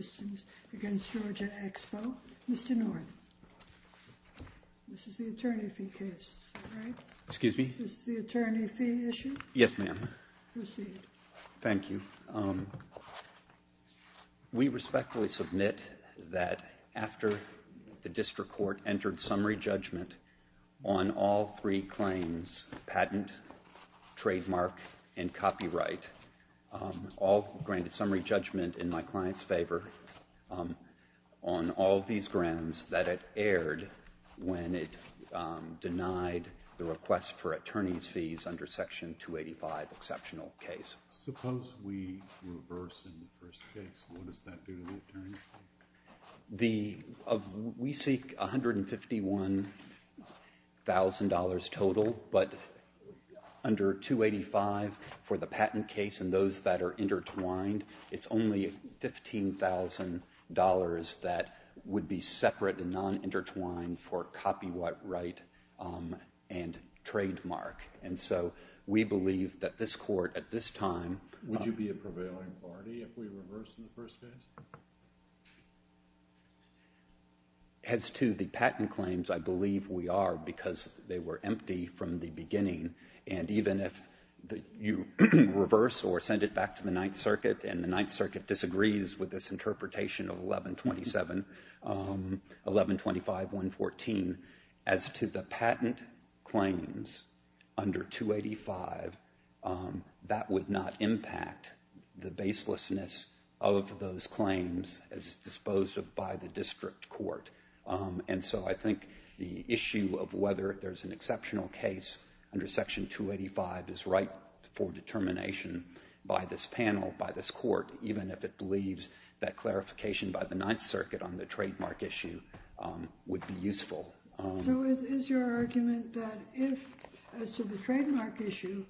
Mr. North, this is the attorney fee case, is that right? Excuse me? This is the attorney fee issue? Yes, ma'am. Proceed. Thank you. We respectfully submit that after the district court entered summary judgment on all three claims, patent, trademark, and copyright, all granted summary judgment in my client's favor on all these grants that it aired when it denied the request for attorney's fees under Section 285 exceptional case. Suppose we reverse in the first case, what does that do to the attorney fee? We seek $151,000 total, but under 285 for the patent case and those that are intertwined, it's only $15,000 that would be separate and non-intertwined for copyright and trademark. And so we believe that this court at this time Would you be a prevailing party if we reversed in the first case? As to the patent claims, I believe we are because they were empty from the beginning. And even if you reverse or send it back to the Ninth Circuit and the Ninth Circuit disagrees with this interpretation of 1127, 1125-114, as to the patent claims under 285, that would not impact the baselessness of those claims as disposed of by the district court. And so I think the issue of whether there's an exceptional case under Section 285 is right for determination by this panel, by this court, even if it believes that clarification by the Ninth Circuit on the trademark issue would be useful. So is your argument that if, as to the trademark issue,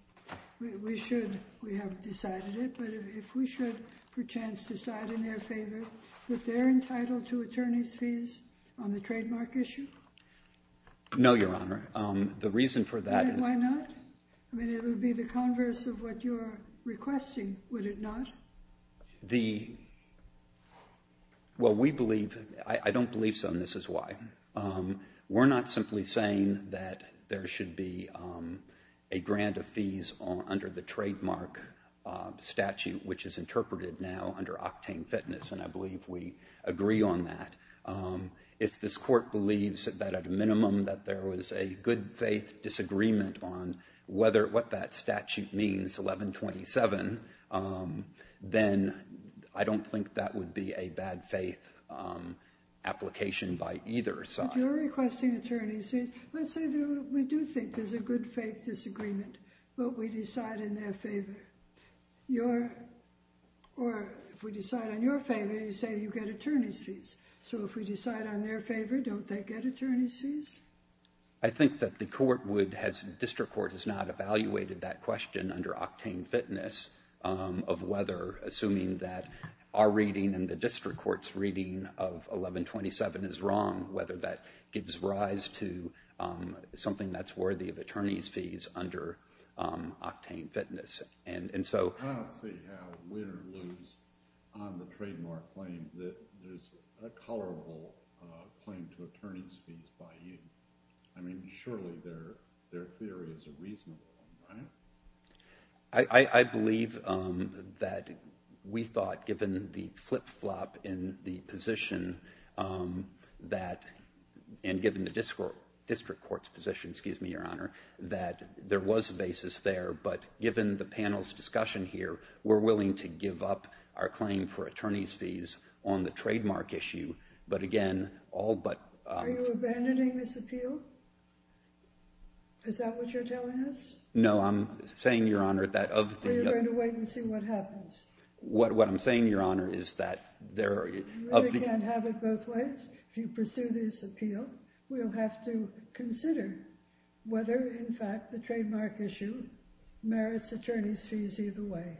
we should we have decided it, but if we should for chance decide in their favor that they're entitled to attorney's fees on the trademark issue? No, Your Honor. The reason for that is Why not? I mean, it would be the converse of what you're requesting, would it not? The, well, we believe, I don't believe so, and this is why. We're not simply saying that there should be a grant of fees under the trademark statute, which is interpreted now under octane fitness, and I believe we agree on that. If this court believes that, at a minimum, that there was a good-faith disagreement on whether, what that statute means, 1127, then I don't think that would be a bad-faith application by either side. But you're requesting attorney's fees. Let's say we do think there's a good-faith disagreement, but we decide in their favor. Your, or if we decide on your favor, you say you get attorney's fees. So if we decide on their favor, don't they get attorney's fees? I think that the court would, district court has not evaluated that question under octane fitness of whether, assuming that our reading and the district court's reading of 1127 is wrong, whether that gives rise to something that's worthy of attorney's fees under octane fitness. I don't see how we would lose on the trademark claim that there's a tolerable claim to attorney's fees by you. I mean, surely their theory is a reasonable one, right? I believe that we thought, given the flip-flop in the position that, and given the district court's position, excuse me, Your Honor, that there was a basis there. But given the panel's discussion here, we're willing to give up our claim for attorney's fees on the trademark issue. But again, all but— Are you abandoning this appeal? Is that what you're telling us? No, I'm saying, Your Honor, that of the— Well, you're going to wait and see what happens. What I'm saying, Your Honor, is that there are— You really can't have it both ways? If you pursue this appeal, we'll have to consider whether, in fact, the trademark issue merits attorney's fees either way.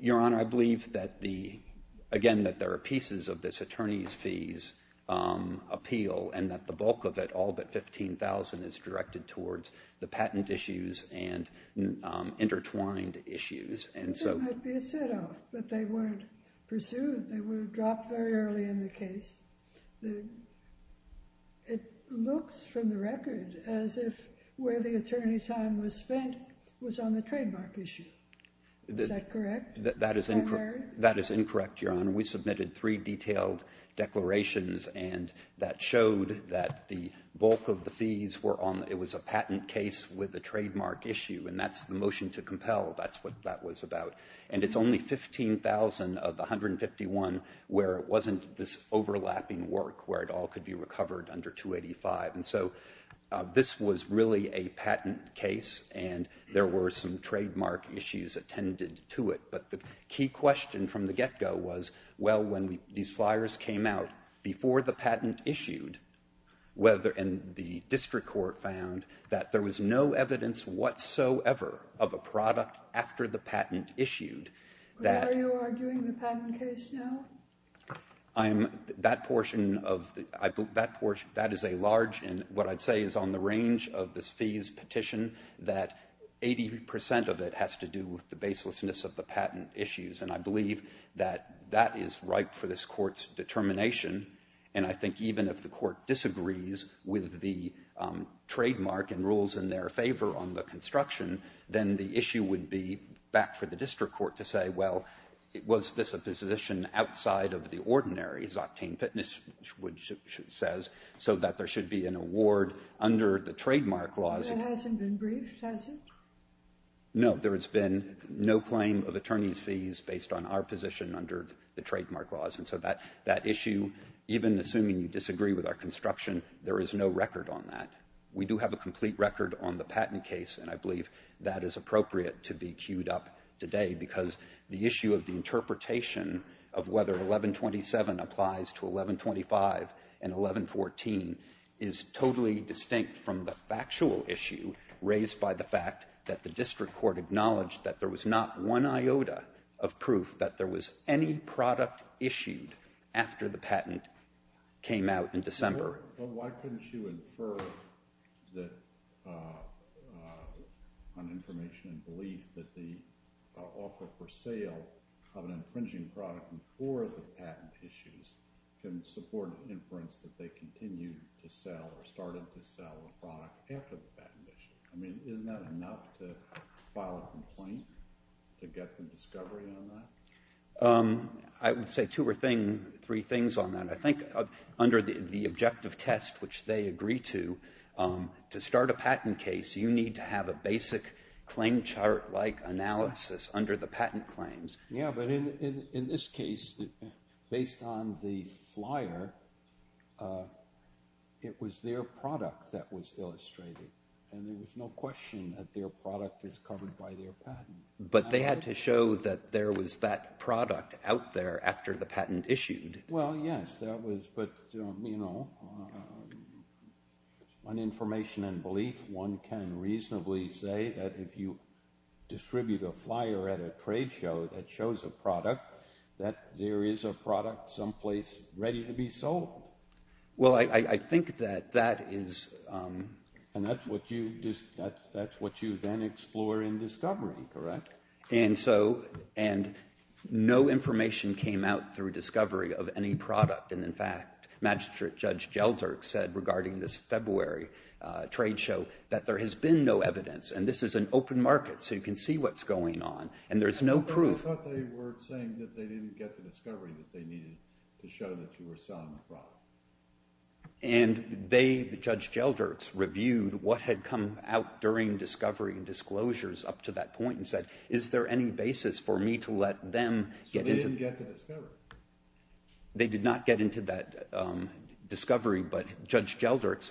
Your Honor, I believe that the—again, that there are pieces of this attorney's fees appeal and that the bulk of it, all but $15,000, is directed towards the patent issues and intertwined issues. And so— I think there might be a set-off, but they weren't pursued. They were dropped very early in the case. It looks, from the record, as if where the attorney time was spent was on the trademark issue. Is that correct? That is incorrect, Your Honor. We submitted three detailed declarations, and that showed that the bulk of the fees were on—it was a patent case with a trademark issue, and that's the motion to compel. That's what that was about. And it's only $15,000 of $151,000 where it wasn't this overlapping work where it all could be recovered under $285,000. And so this was really a patent case, and there were some trademark issues attended to it. But the key question from the get-go was, well, when these flyers came out, before the patent issued, whether—and the district court found that there was no evidence whatsoever of a product after the patent issued that— Are you arguing the patent case now? I'm—that portion of the—that is a large—and what I'd say is on the range of this fees petition, that 80 percent of it has to do with the baselessness of the patent issues. And I believe that that is ripe for this Court's determination. And I think even if the Court disagrees with the trademark and rules in their favor on the construction, then the issue would be back for the district court to say, well, was this a position outside of the ordinary, as Octane Fitnesswood says, so that there should be an award under the trademark laws? That hasn't been briefed, has it? No, there has been no claim of attorney's fees based on our position under the trademark laws. And so that issue, even assuming you disagree with our construction, there is no record on that. We do have a complete record on the patent case, and I believe that is appropriate to be queued up today because the issue of the interpretation of whether 1127 applies to 1125 and 1114 is totally distinct from the factual issue raised by the fact that the district court acknowledged that there was not one iota of proof that there was any product issued after the patent came out in December. Well, why couldn't you infer that on information and belief that the offer for sale of an infringing product before the patent issues can support inference that they continued to sell or started to sell a product after the patent issue? I mean, isn't that enough to file a complaint to get the discovery on that? I would say two or three things on that. I think under the objective test, which they agree to, to start a patent case, you need to have a basic claim chart-like analysis under the patent claims. Yeah, but in this case, based on the flyer, it was their product that was illustrated, and there was no question that their product was covered by their patent. But they had to show that there was that product out there after the patent issued. Well, yes, that was, but, you know, on information and belief, one can reasonably say that if you distribute a flyer at a trade show that shows a product, that there is a product someplace ready to be sold. Well, I think that that is... And that's what you then explore in discovery, correct? And so no information came out through discovery of any product. And, in fact, Magistrate Judge Gelderk said regarding this February trade show that there has been no evidence, and this is an open market, so you can see what's going on, and there's no proof. I thought they were saying that they didn't get the discovery that they needed to show that you were selling the product. And they, Judge Gelderk, reviewed what had come out during discovery and disclosures up to that point and said, is there any basis for me to let them get into... So they didn't get the discovery. They did not get into that discovery, but Judge Gelderk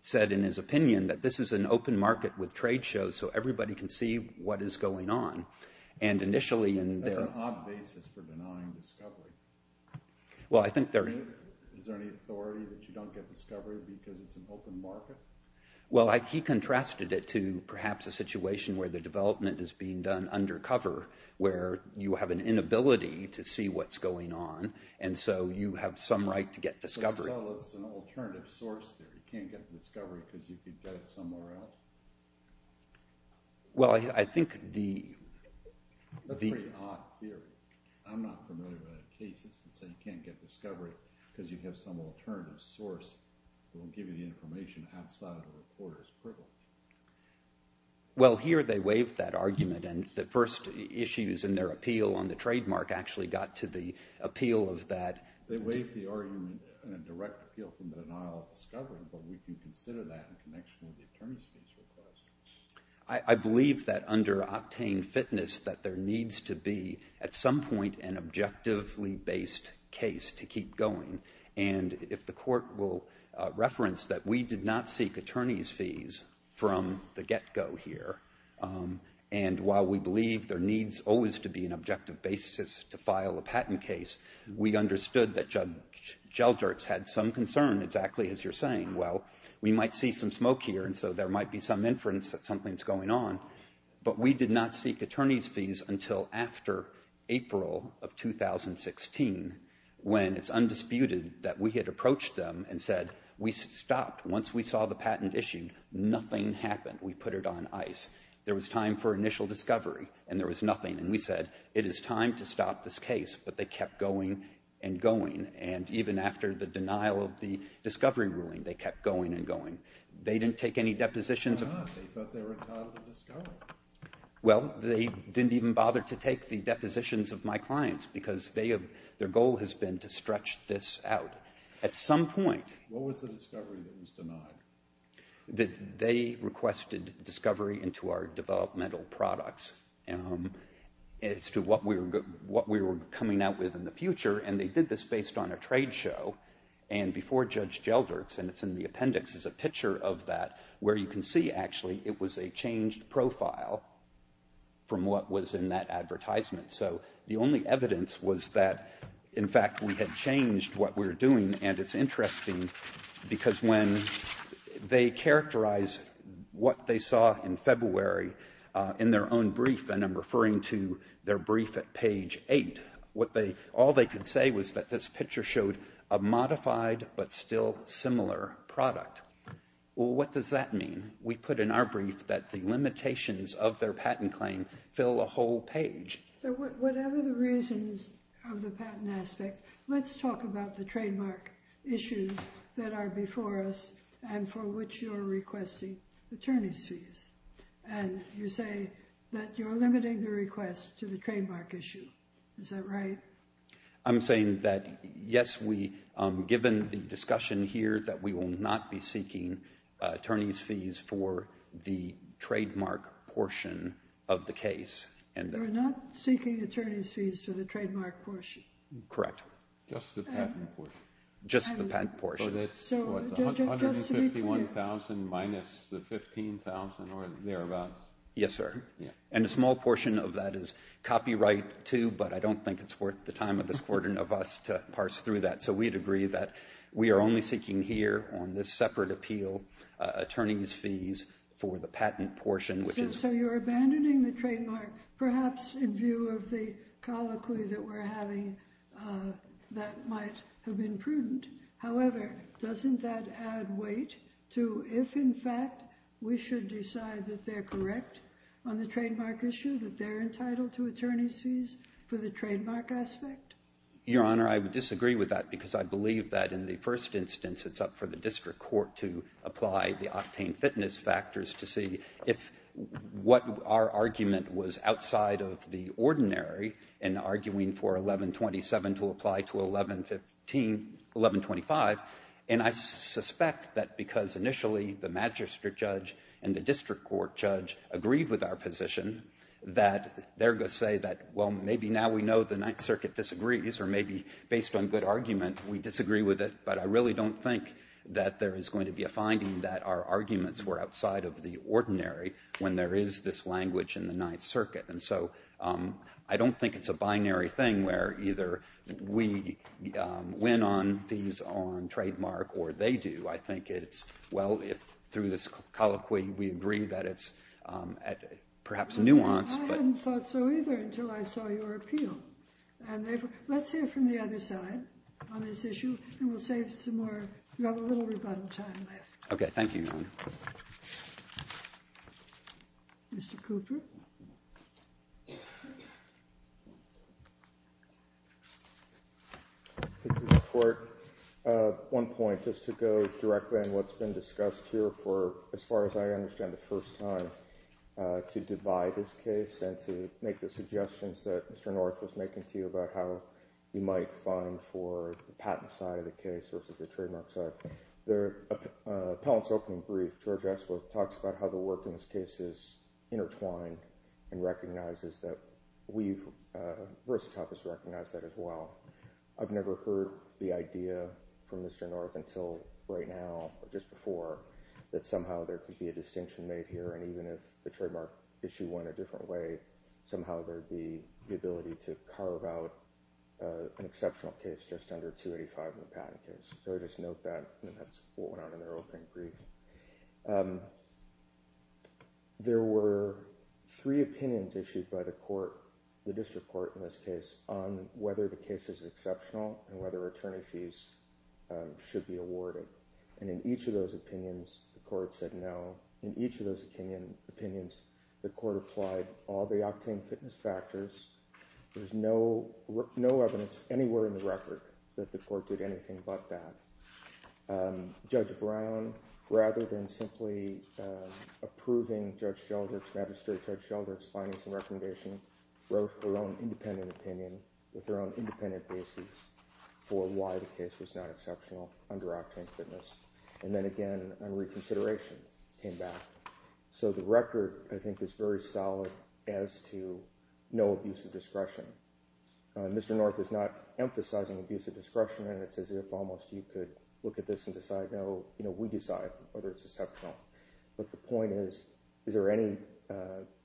said in his opinion that this is an open market with trade shows, so everybody can see what is going on. And initially in their... That's an odd basis for denying discovery. Well, I think there... Is there any authority that you don't get discovery because it's an open market? Well, he contrasted it to perhaps a situation where the development is being done undercover where you have an inability to see what's going on, and so you have some right to get discovery. Well, I think the... Well, here they waived that argument, and the first issues in their appeal on the trademark actually got to the appeal of that... I believe that under octane fitness that there needs to be at some point an objectively based case to keep going. And if the court will reference that we did not seek attorney's fees from the get-go here, and while we believe there needs always to be an objective basis to file a patent case, we understood that Judge Gelderk had some concern, exactly as you're saying. Well, we might see some smoke here, and so there might be some inference that something's going on, but we did not seek attorney's fees until after April of 2016 when it's undisputed that we had approached them and said, we stopped. Once we saw the patent issued, nothing happened. We put it on ice. There was time for initial discovery, and there was nothing, and we said, it is time to stop this case, but they kept going and going, and even after the denial of the discovery ruling, they kept going and going. They didn't take any depositions... Well, they didn't even bother to take the depositions of my clients because their goal has been to stretch this out. At some point... What was the discovery that was denied? They requested discovery into our developmental products as to what we were coming out with in the future, and they did this based on a trade show, and before Judge Gelderk's, and it's in the appendix, there's a picture of that where you can see, actually, it was a changed profile from what was in that advertisement. So the only evidence was that, in fact, we had changed what we were doing, and it's interesting because when they characterized what they saw in February in their own brief, and I'm referring to their brief at page 8, all they could say was that this picture showed a modified but still similar product. Well, what does that mean? We put in our brief that the limitations of their patent claim fill a whole page. So whatever the reasons of the patent aspect, let's talk about the trademark issues that are before us and for which you're requesting attorney's fees, and you say that you're limiting the request to the trademark issue. Is that right? I'm saying that, yes, given the discussion here that we will not be seeking attorney's fees for the trademark portion of the case. You're not seeking attorney's fees for the trademark portion? Correct. Just the patent portion. Just the patent portion. So that's what, 151,000 minus the 15,000 or thereabouts? Yes, sir. And a small portion of that is copyright, too, but I don't think it's worth the time of this Court and of us to parse through that. So we'd agree that we are only seeking here on this separate appeal attorney's fees for the patent portion. So you're abandoning the trademark, perhaps in view of the colloquy that we're having that might have been prudent. However, doesn't that add weight to if, in fact, we should decide that they're correct on the trademark issue, that they're entitled to attorney's fees for the trademark aspect? Your Honor, I would disagree with that because I believe that in the first instance it's up for the district court to apply the octane fitness factors to see if what our argument was outside of the ordinary in arguing for 1127 to apply to 1125, and I suspect that because initially the magistrate judge and the district court judge agreed with our position that they're going to say that, well, maybe now we know the Ninth Circuit disagrees or maybe based on good argument we disagree with it, but I really don't think that there is going to be a finding that our arguments were outside of the ordinary when there is this language in the Ninth Circuit. And so I don't think it's a binary thing where either we win on fees on trademark or they do. I think it's, well, if through this colloquy we agree that it's perhaps nuanced. I hadn't thought so either until I saw your appeal. Let's hear from the other side on this issue and we'll save some more. You have a little rebuttal time left. Okay. Thank you, Your Honor. Mr. Cooper. Mr. Court, one point, just to go directly on what's been discussed here for, as far as I understand, the first time, to divide this case and to make the suggestions that Mr. North was making to you about how you might find for the patent side of the case versus the trademark side. The appellant's opening brief, George Axelrod, talks about how the work in this case is intertwined and recognizes that we've, versus Tupp has recognized that as well. I've never heard the idea from Mr. North until right now or just before that somehow there could be a distinction made here and even if the trademark issue went a different way, somehow there'd be the ability to carve out an exceptional case just under 285 in the patent case. So I just note that, and that's what went on in their opening brief. There were three opinions issued by the court, the district court in this case, on whether the case is exceptional and whether attorney fees should be awarded. And in each of those opinions, the court said no. In each of those opinions, the court applied all the octane fitness factors. There's no evidence anywhere in the record that the court did anything but that. Judge Brown, rather than simply approving Judge Sheldrick's, magistrate Judge Sheldrick's findings and recommendation, wrote her own independent opinion with her own independent basis for why the case was not exceptional under octane fitness. And then again, a reconsideration came back. So the record, I think, is very solid as to no abuse of discretion. Mr. North is not emphasizing abuse of discretion and it's as if almost you could look at this and decide, no, we decide whether it's exceptional. But the point is, is there any,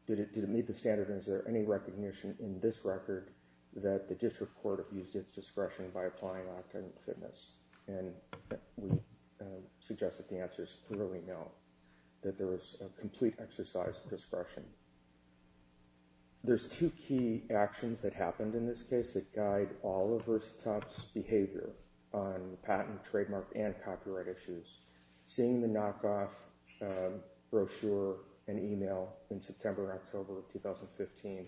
did it meet the standard and is there any recognition in this record that the district court abused its discretion by applying octane fitness? And we suggest that the answer is clearly no, that there is a complete exercise of discretion. There's two key actions that happened in this case that guide all of Verzatop's behavior on patent, trademark, and copyright issues. Seeing the knockoff brochure and email in September and October of 2015,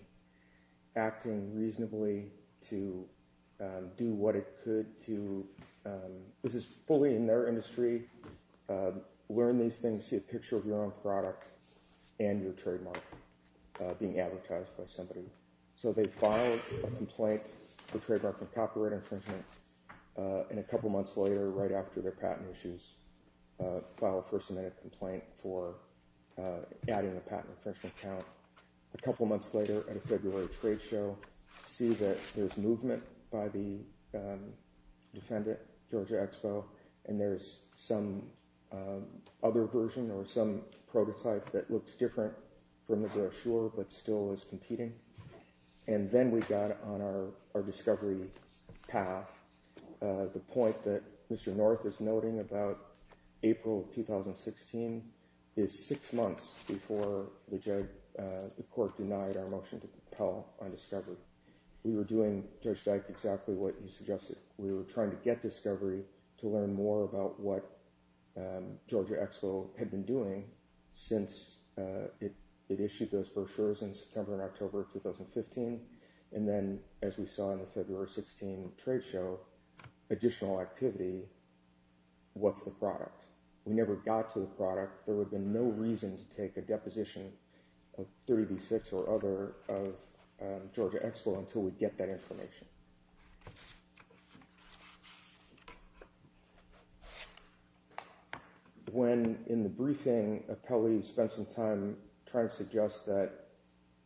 acting reasonably to do what it could to, this is fully in their industry, learn these things, see a picture of your own product and your trademark being advertised by somebody. So they filed a complaint for trademark and copyright infringement and a couple months later, right after their patent issues, filed a first amendment complaint for adding a patent infringement count. A couple months later at a February trade show, see that there's movement by the defendant, Georgia Expo, and there's some other version or some prototype that looks different from the brochure but still is competing. And then we got on our discovery path. The point that Mr. North is noting about April 2016 is six months before the court denied our motion to compel on discovery. We were doing, Judge Dyke, exactly what you suggested. We were trying to get discovery to learn more about what Georgia Expo had been doing since it issued those brochures in September and October 2015. And then as we saw in the February 16 trade show, additional activity, what's the product? We never got to the product. There would have been no reason to take a deposition of 30B6 or other of Georgia Expo until we'd get that information. When in the briefing, Appellee spent some time trying to suggest that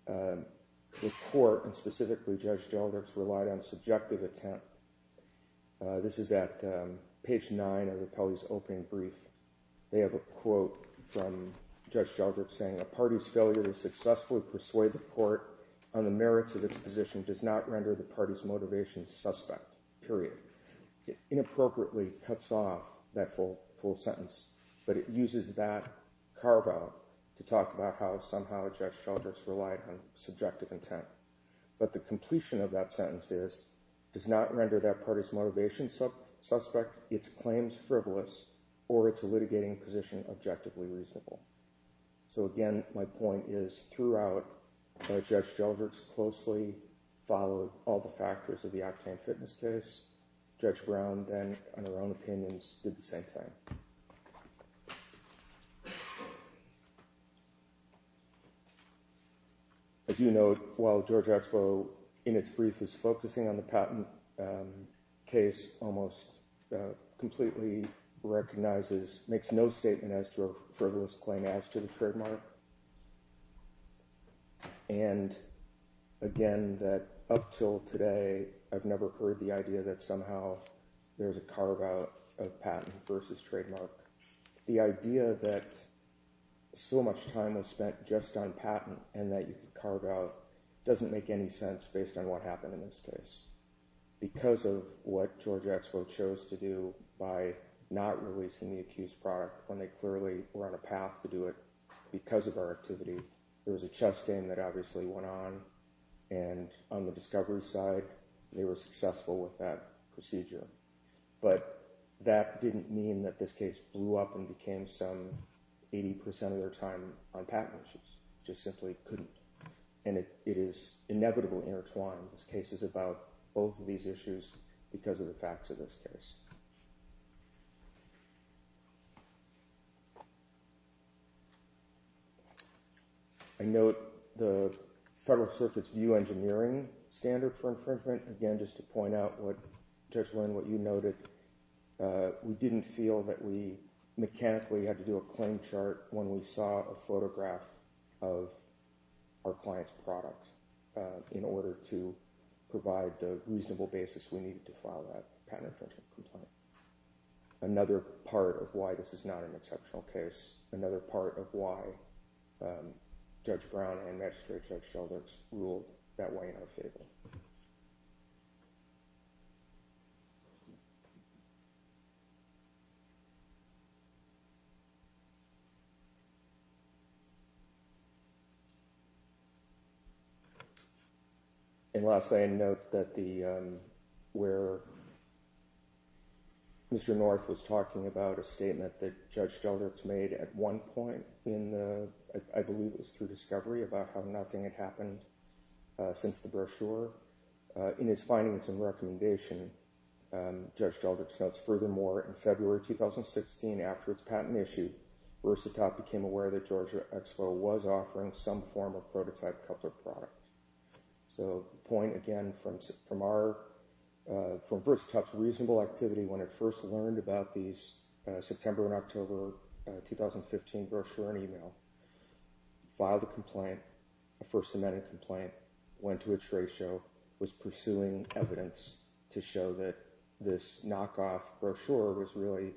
the court, and specifically Judge Geldrick, relied on subjective attempt. This is at page 9 of Appellee's opening brief. They have a quote from Judge Geldrick saying, a party's failure to successfully persuade the court on the merits of its position does not render the party's motivation suspect, period. It inappropriately cuts off that full sentence, but it uses that carve-out to talk about how somehow Judge Geldrick's relied on subjective intent. But the completion of that sentence is, does not render that party's motivation suspect, its claims frivolous, or its litigating position objectively reasonable. So again, my point is, throughout, Judge Geldrick's closely followed all the factors of the Octane Fitness case. Judge Brown, then, on her own opinions, did the same thing. I do note, while Georgia Expo, in its brief, is focusing on the patent case, almost completely recognizes, makes no statement as to a frivolous claim as to the trademark. And again, that up till today, I've never heard the idea that somehow there's a carve-out of patent versus trademark. The idea that so much time was spent just on patent and that you could carve-out doesn't make any sense based on what happened in this case. Because of what Georgia Expo chose to do by not releasing the accused product when they clearly were on a path to do it because of our activity, there was a chess game that obviously went on. And on the discovery side, they were successful with that procedure. But that didn't mean that this case blew up and became some 80% of their time on patent issues. It just simply couldn't. And it is inevitably intertwined. This case is about both of these issues because of the facts of this case. I note the Federal Circuit's view engineering standard for infringement. Again, just to point out, Judge Lynn, what you noted, we didn't feel that we mechanically had to do a claim chart when we saw a photograph of our client's product in order to provide the reasonable basis we needed to file that patent infringement complaint. Another part of why this is not an exceptional case, another part of why Judge Brown and Magistrate Judge Sheldricks ruled that way in our favor. And lastly, I note that where Mr. North was talking about a statement that Judge Sheldricks made at one point in, I believe it was through discovery, about how nothing had happened since the brochure. In his findings and recommendation, Judge Sheldricks notes, furthermore, in February 2016, after its patent issue, Versatop became aware that Georgia Expo was offering some form of prototype coupler product. So the point, again, from Versatop's reasonable activity when it first learned about these September and October 2015 brochure and email, filed a complaint, a First Amendment complaint, went to a trade show, was pursuing evidence to show that this knockoff brochure was really,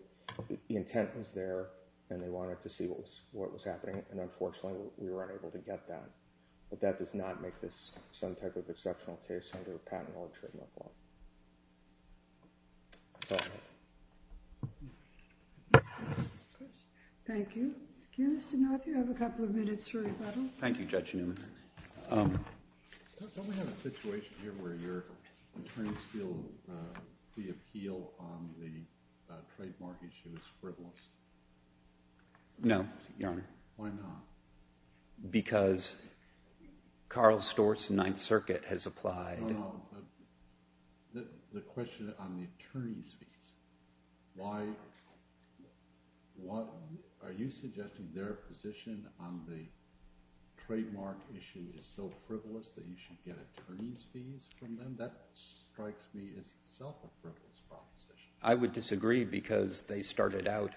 the intent was there, and they wanted to see what was happening. And unfortunately, we were unable to get that. But that does not make this some type of exceptional case under a patent or a treatment law. Thank you. Mr. North, you have a couple of minutes for rebuttal. Thank you, Judge Newman. Don't we have a situation here where your attorneys feel the appeal on the trademark issue is frivolous? No, Your Honor. Why not? Because Carl Stortz, Ninth Circuit, has applied. The question on the attorney's fees. Why? Are you suggesting their position on the trademark issue is so frivolous that you should get attorney's fees from them? That strikes me as itself a frivolous proposition. I would disagree because they started out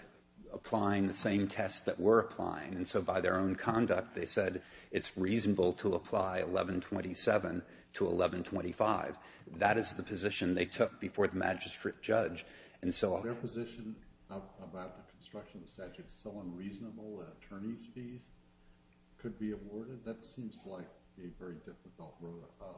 applying the same tests that we're applying. And so by their own conduct, they said it's reasonable to apply 1127 to 1125. That is the position they took before the magistrate judge. Their position about the construction statute is so unreasonable that attorney's fees could be awarded? That seems like a very difficult rule of thumb.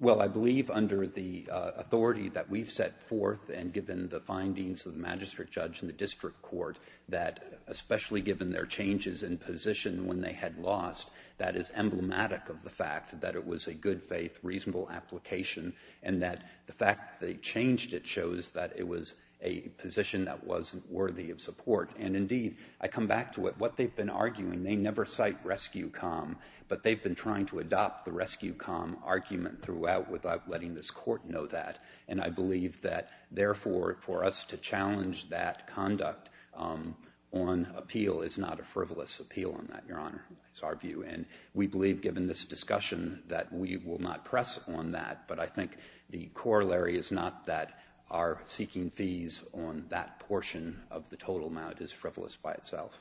Well, I believe under the authority that we've set forth and given the findings of the magistrate judge and the district court that, especially given their changes in position when they had lost, that is emblematic of the fact that it was a good faith, reasonable application and that the fact that they changed it shows that it was a position that wasn't worthy of support. And indeed, I come back to what they've been arguing. They never cite Rescue Com, but they've been trying to adopt the Rescue Com argument throughout without letting this court know that. And I believe that, therefore, for us to challenge that conduct on appeal is not a frivolous appeal on that, Your Honor. That's our view. And we believe, given this discussion, that we will not press on that. But I think the corollary is not that our seeking fees on that portion of the total amount is frivolous by itself.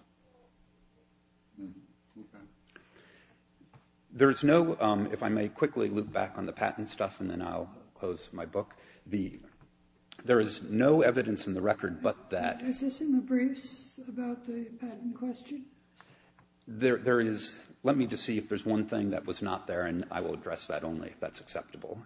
If I may quickly loop back on the patent stuff and then I'll close my book. There is no evidence in the record but that... Is this in the briefs about the patent question? Let me just see if there's one thing that was not there and I will address that only if that's acceptable.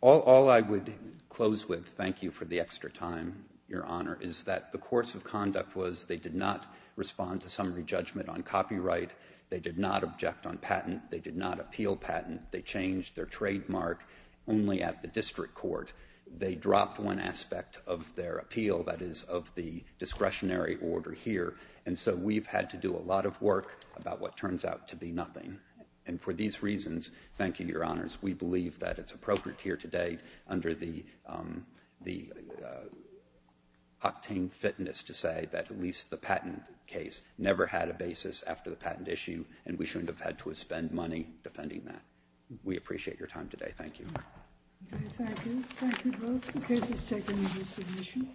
All I would close with, thank you for the extra time, Your Honor, is that the course of conduct was they did not respond to summary judgment on copyright. They did not object on patent. They did not appeal patent. They changed their trademark only at the district court. They dropped one aspect of their appeal, that is, of the discretionary order here. And so we've had to do a lot of work about what turns out to be nothing. And for these reasons, thank you, Your Honors, we believe that it's appropriate here today under the octane fitness to say that at least the patent case never had a basis after the patent issue and we shouldn't have had to spend money defending that. We appreciate your time today. Thank you. Thank you. Thank you both. The case is taken into submission.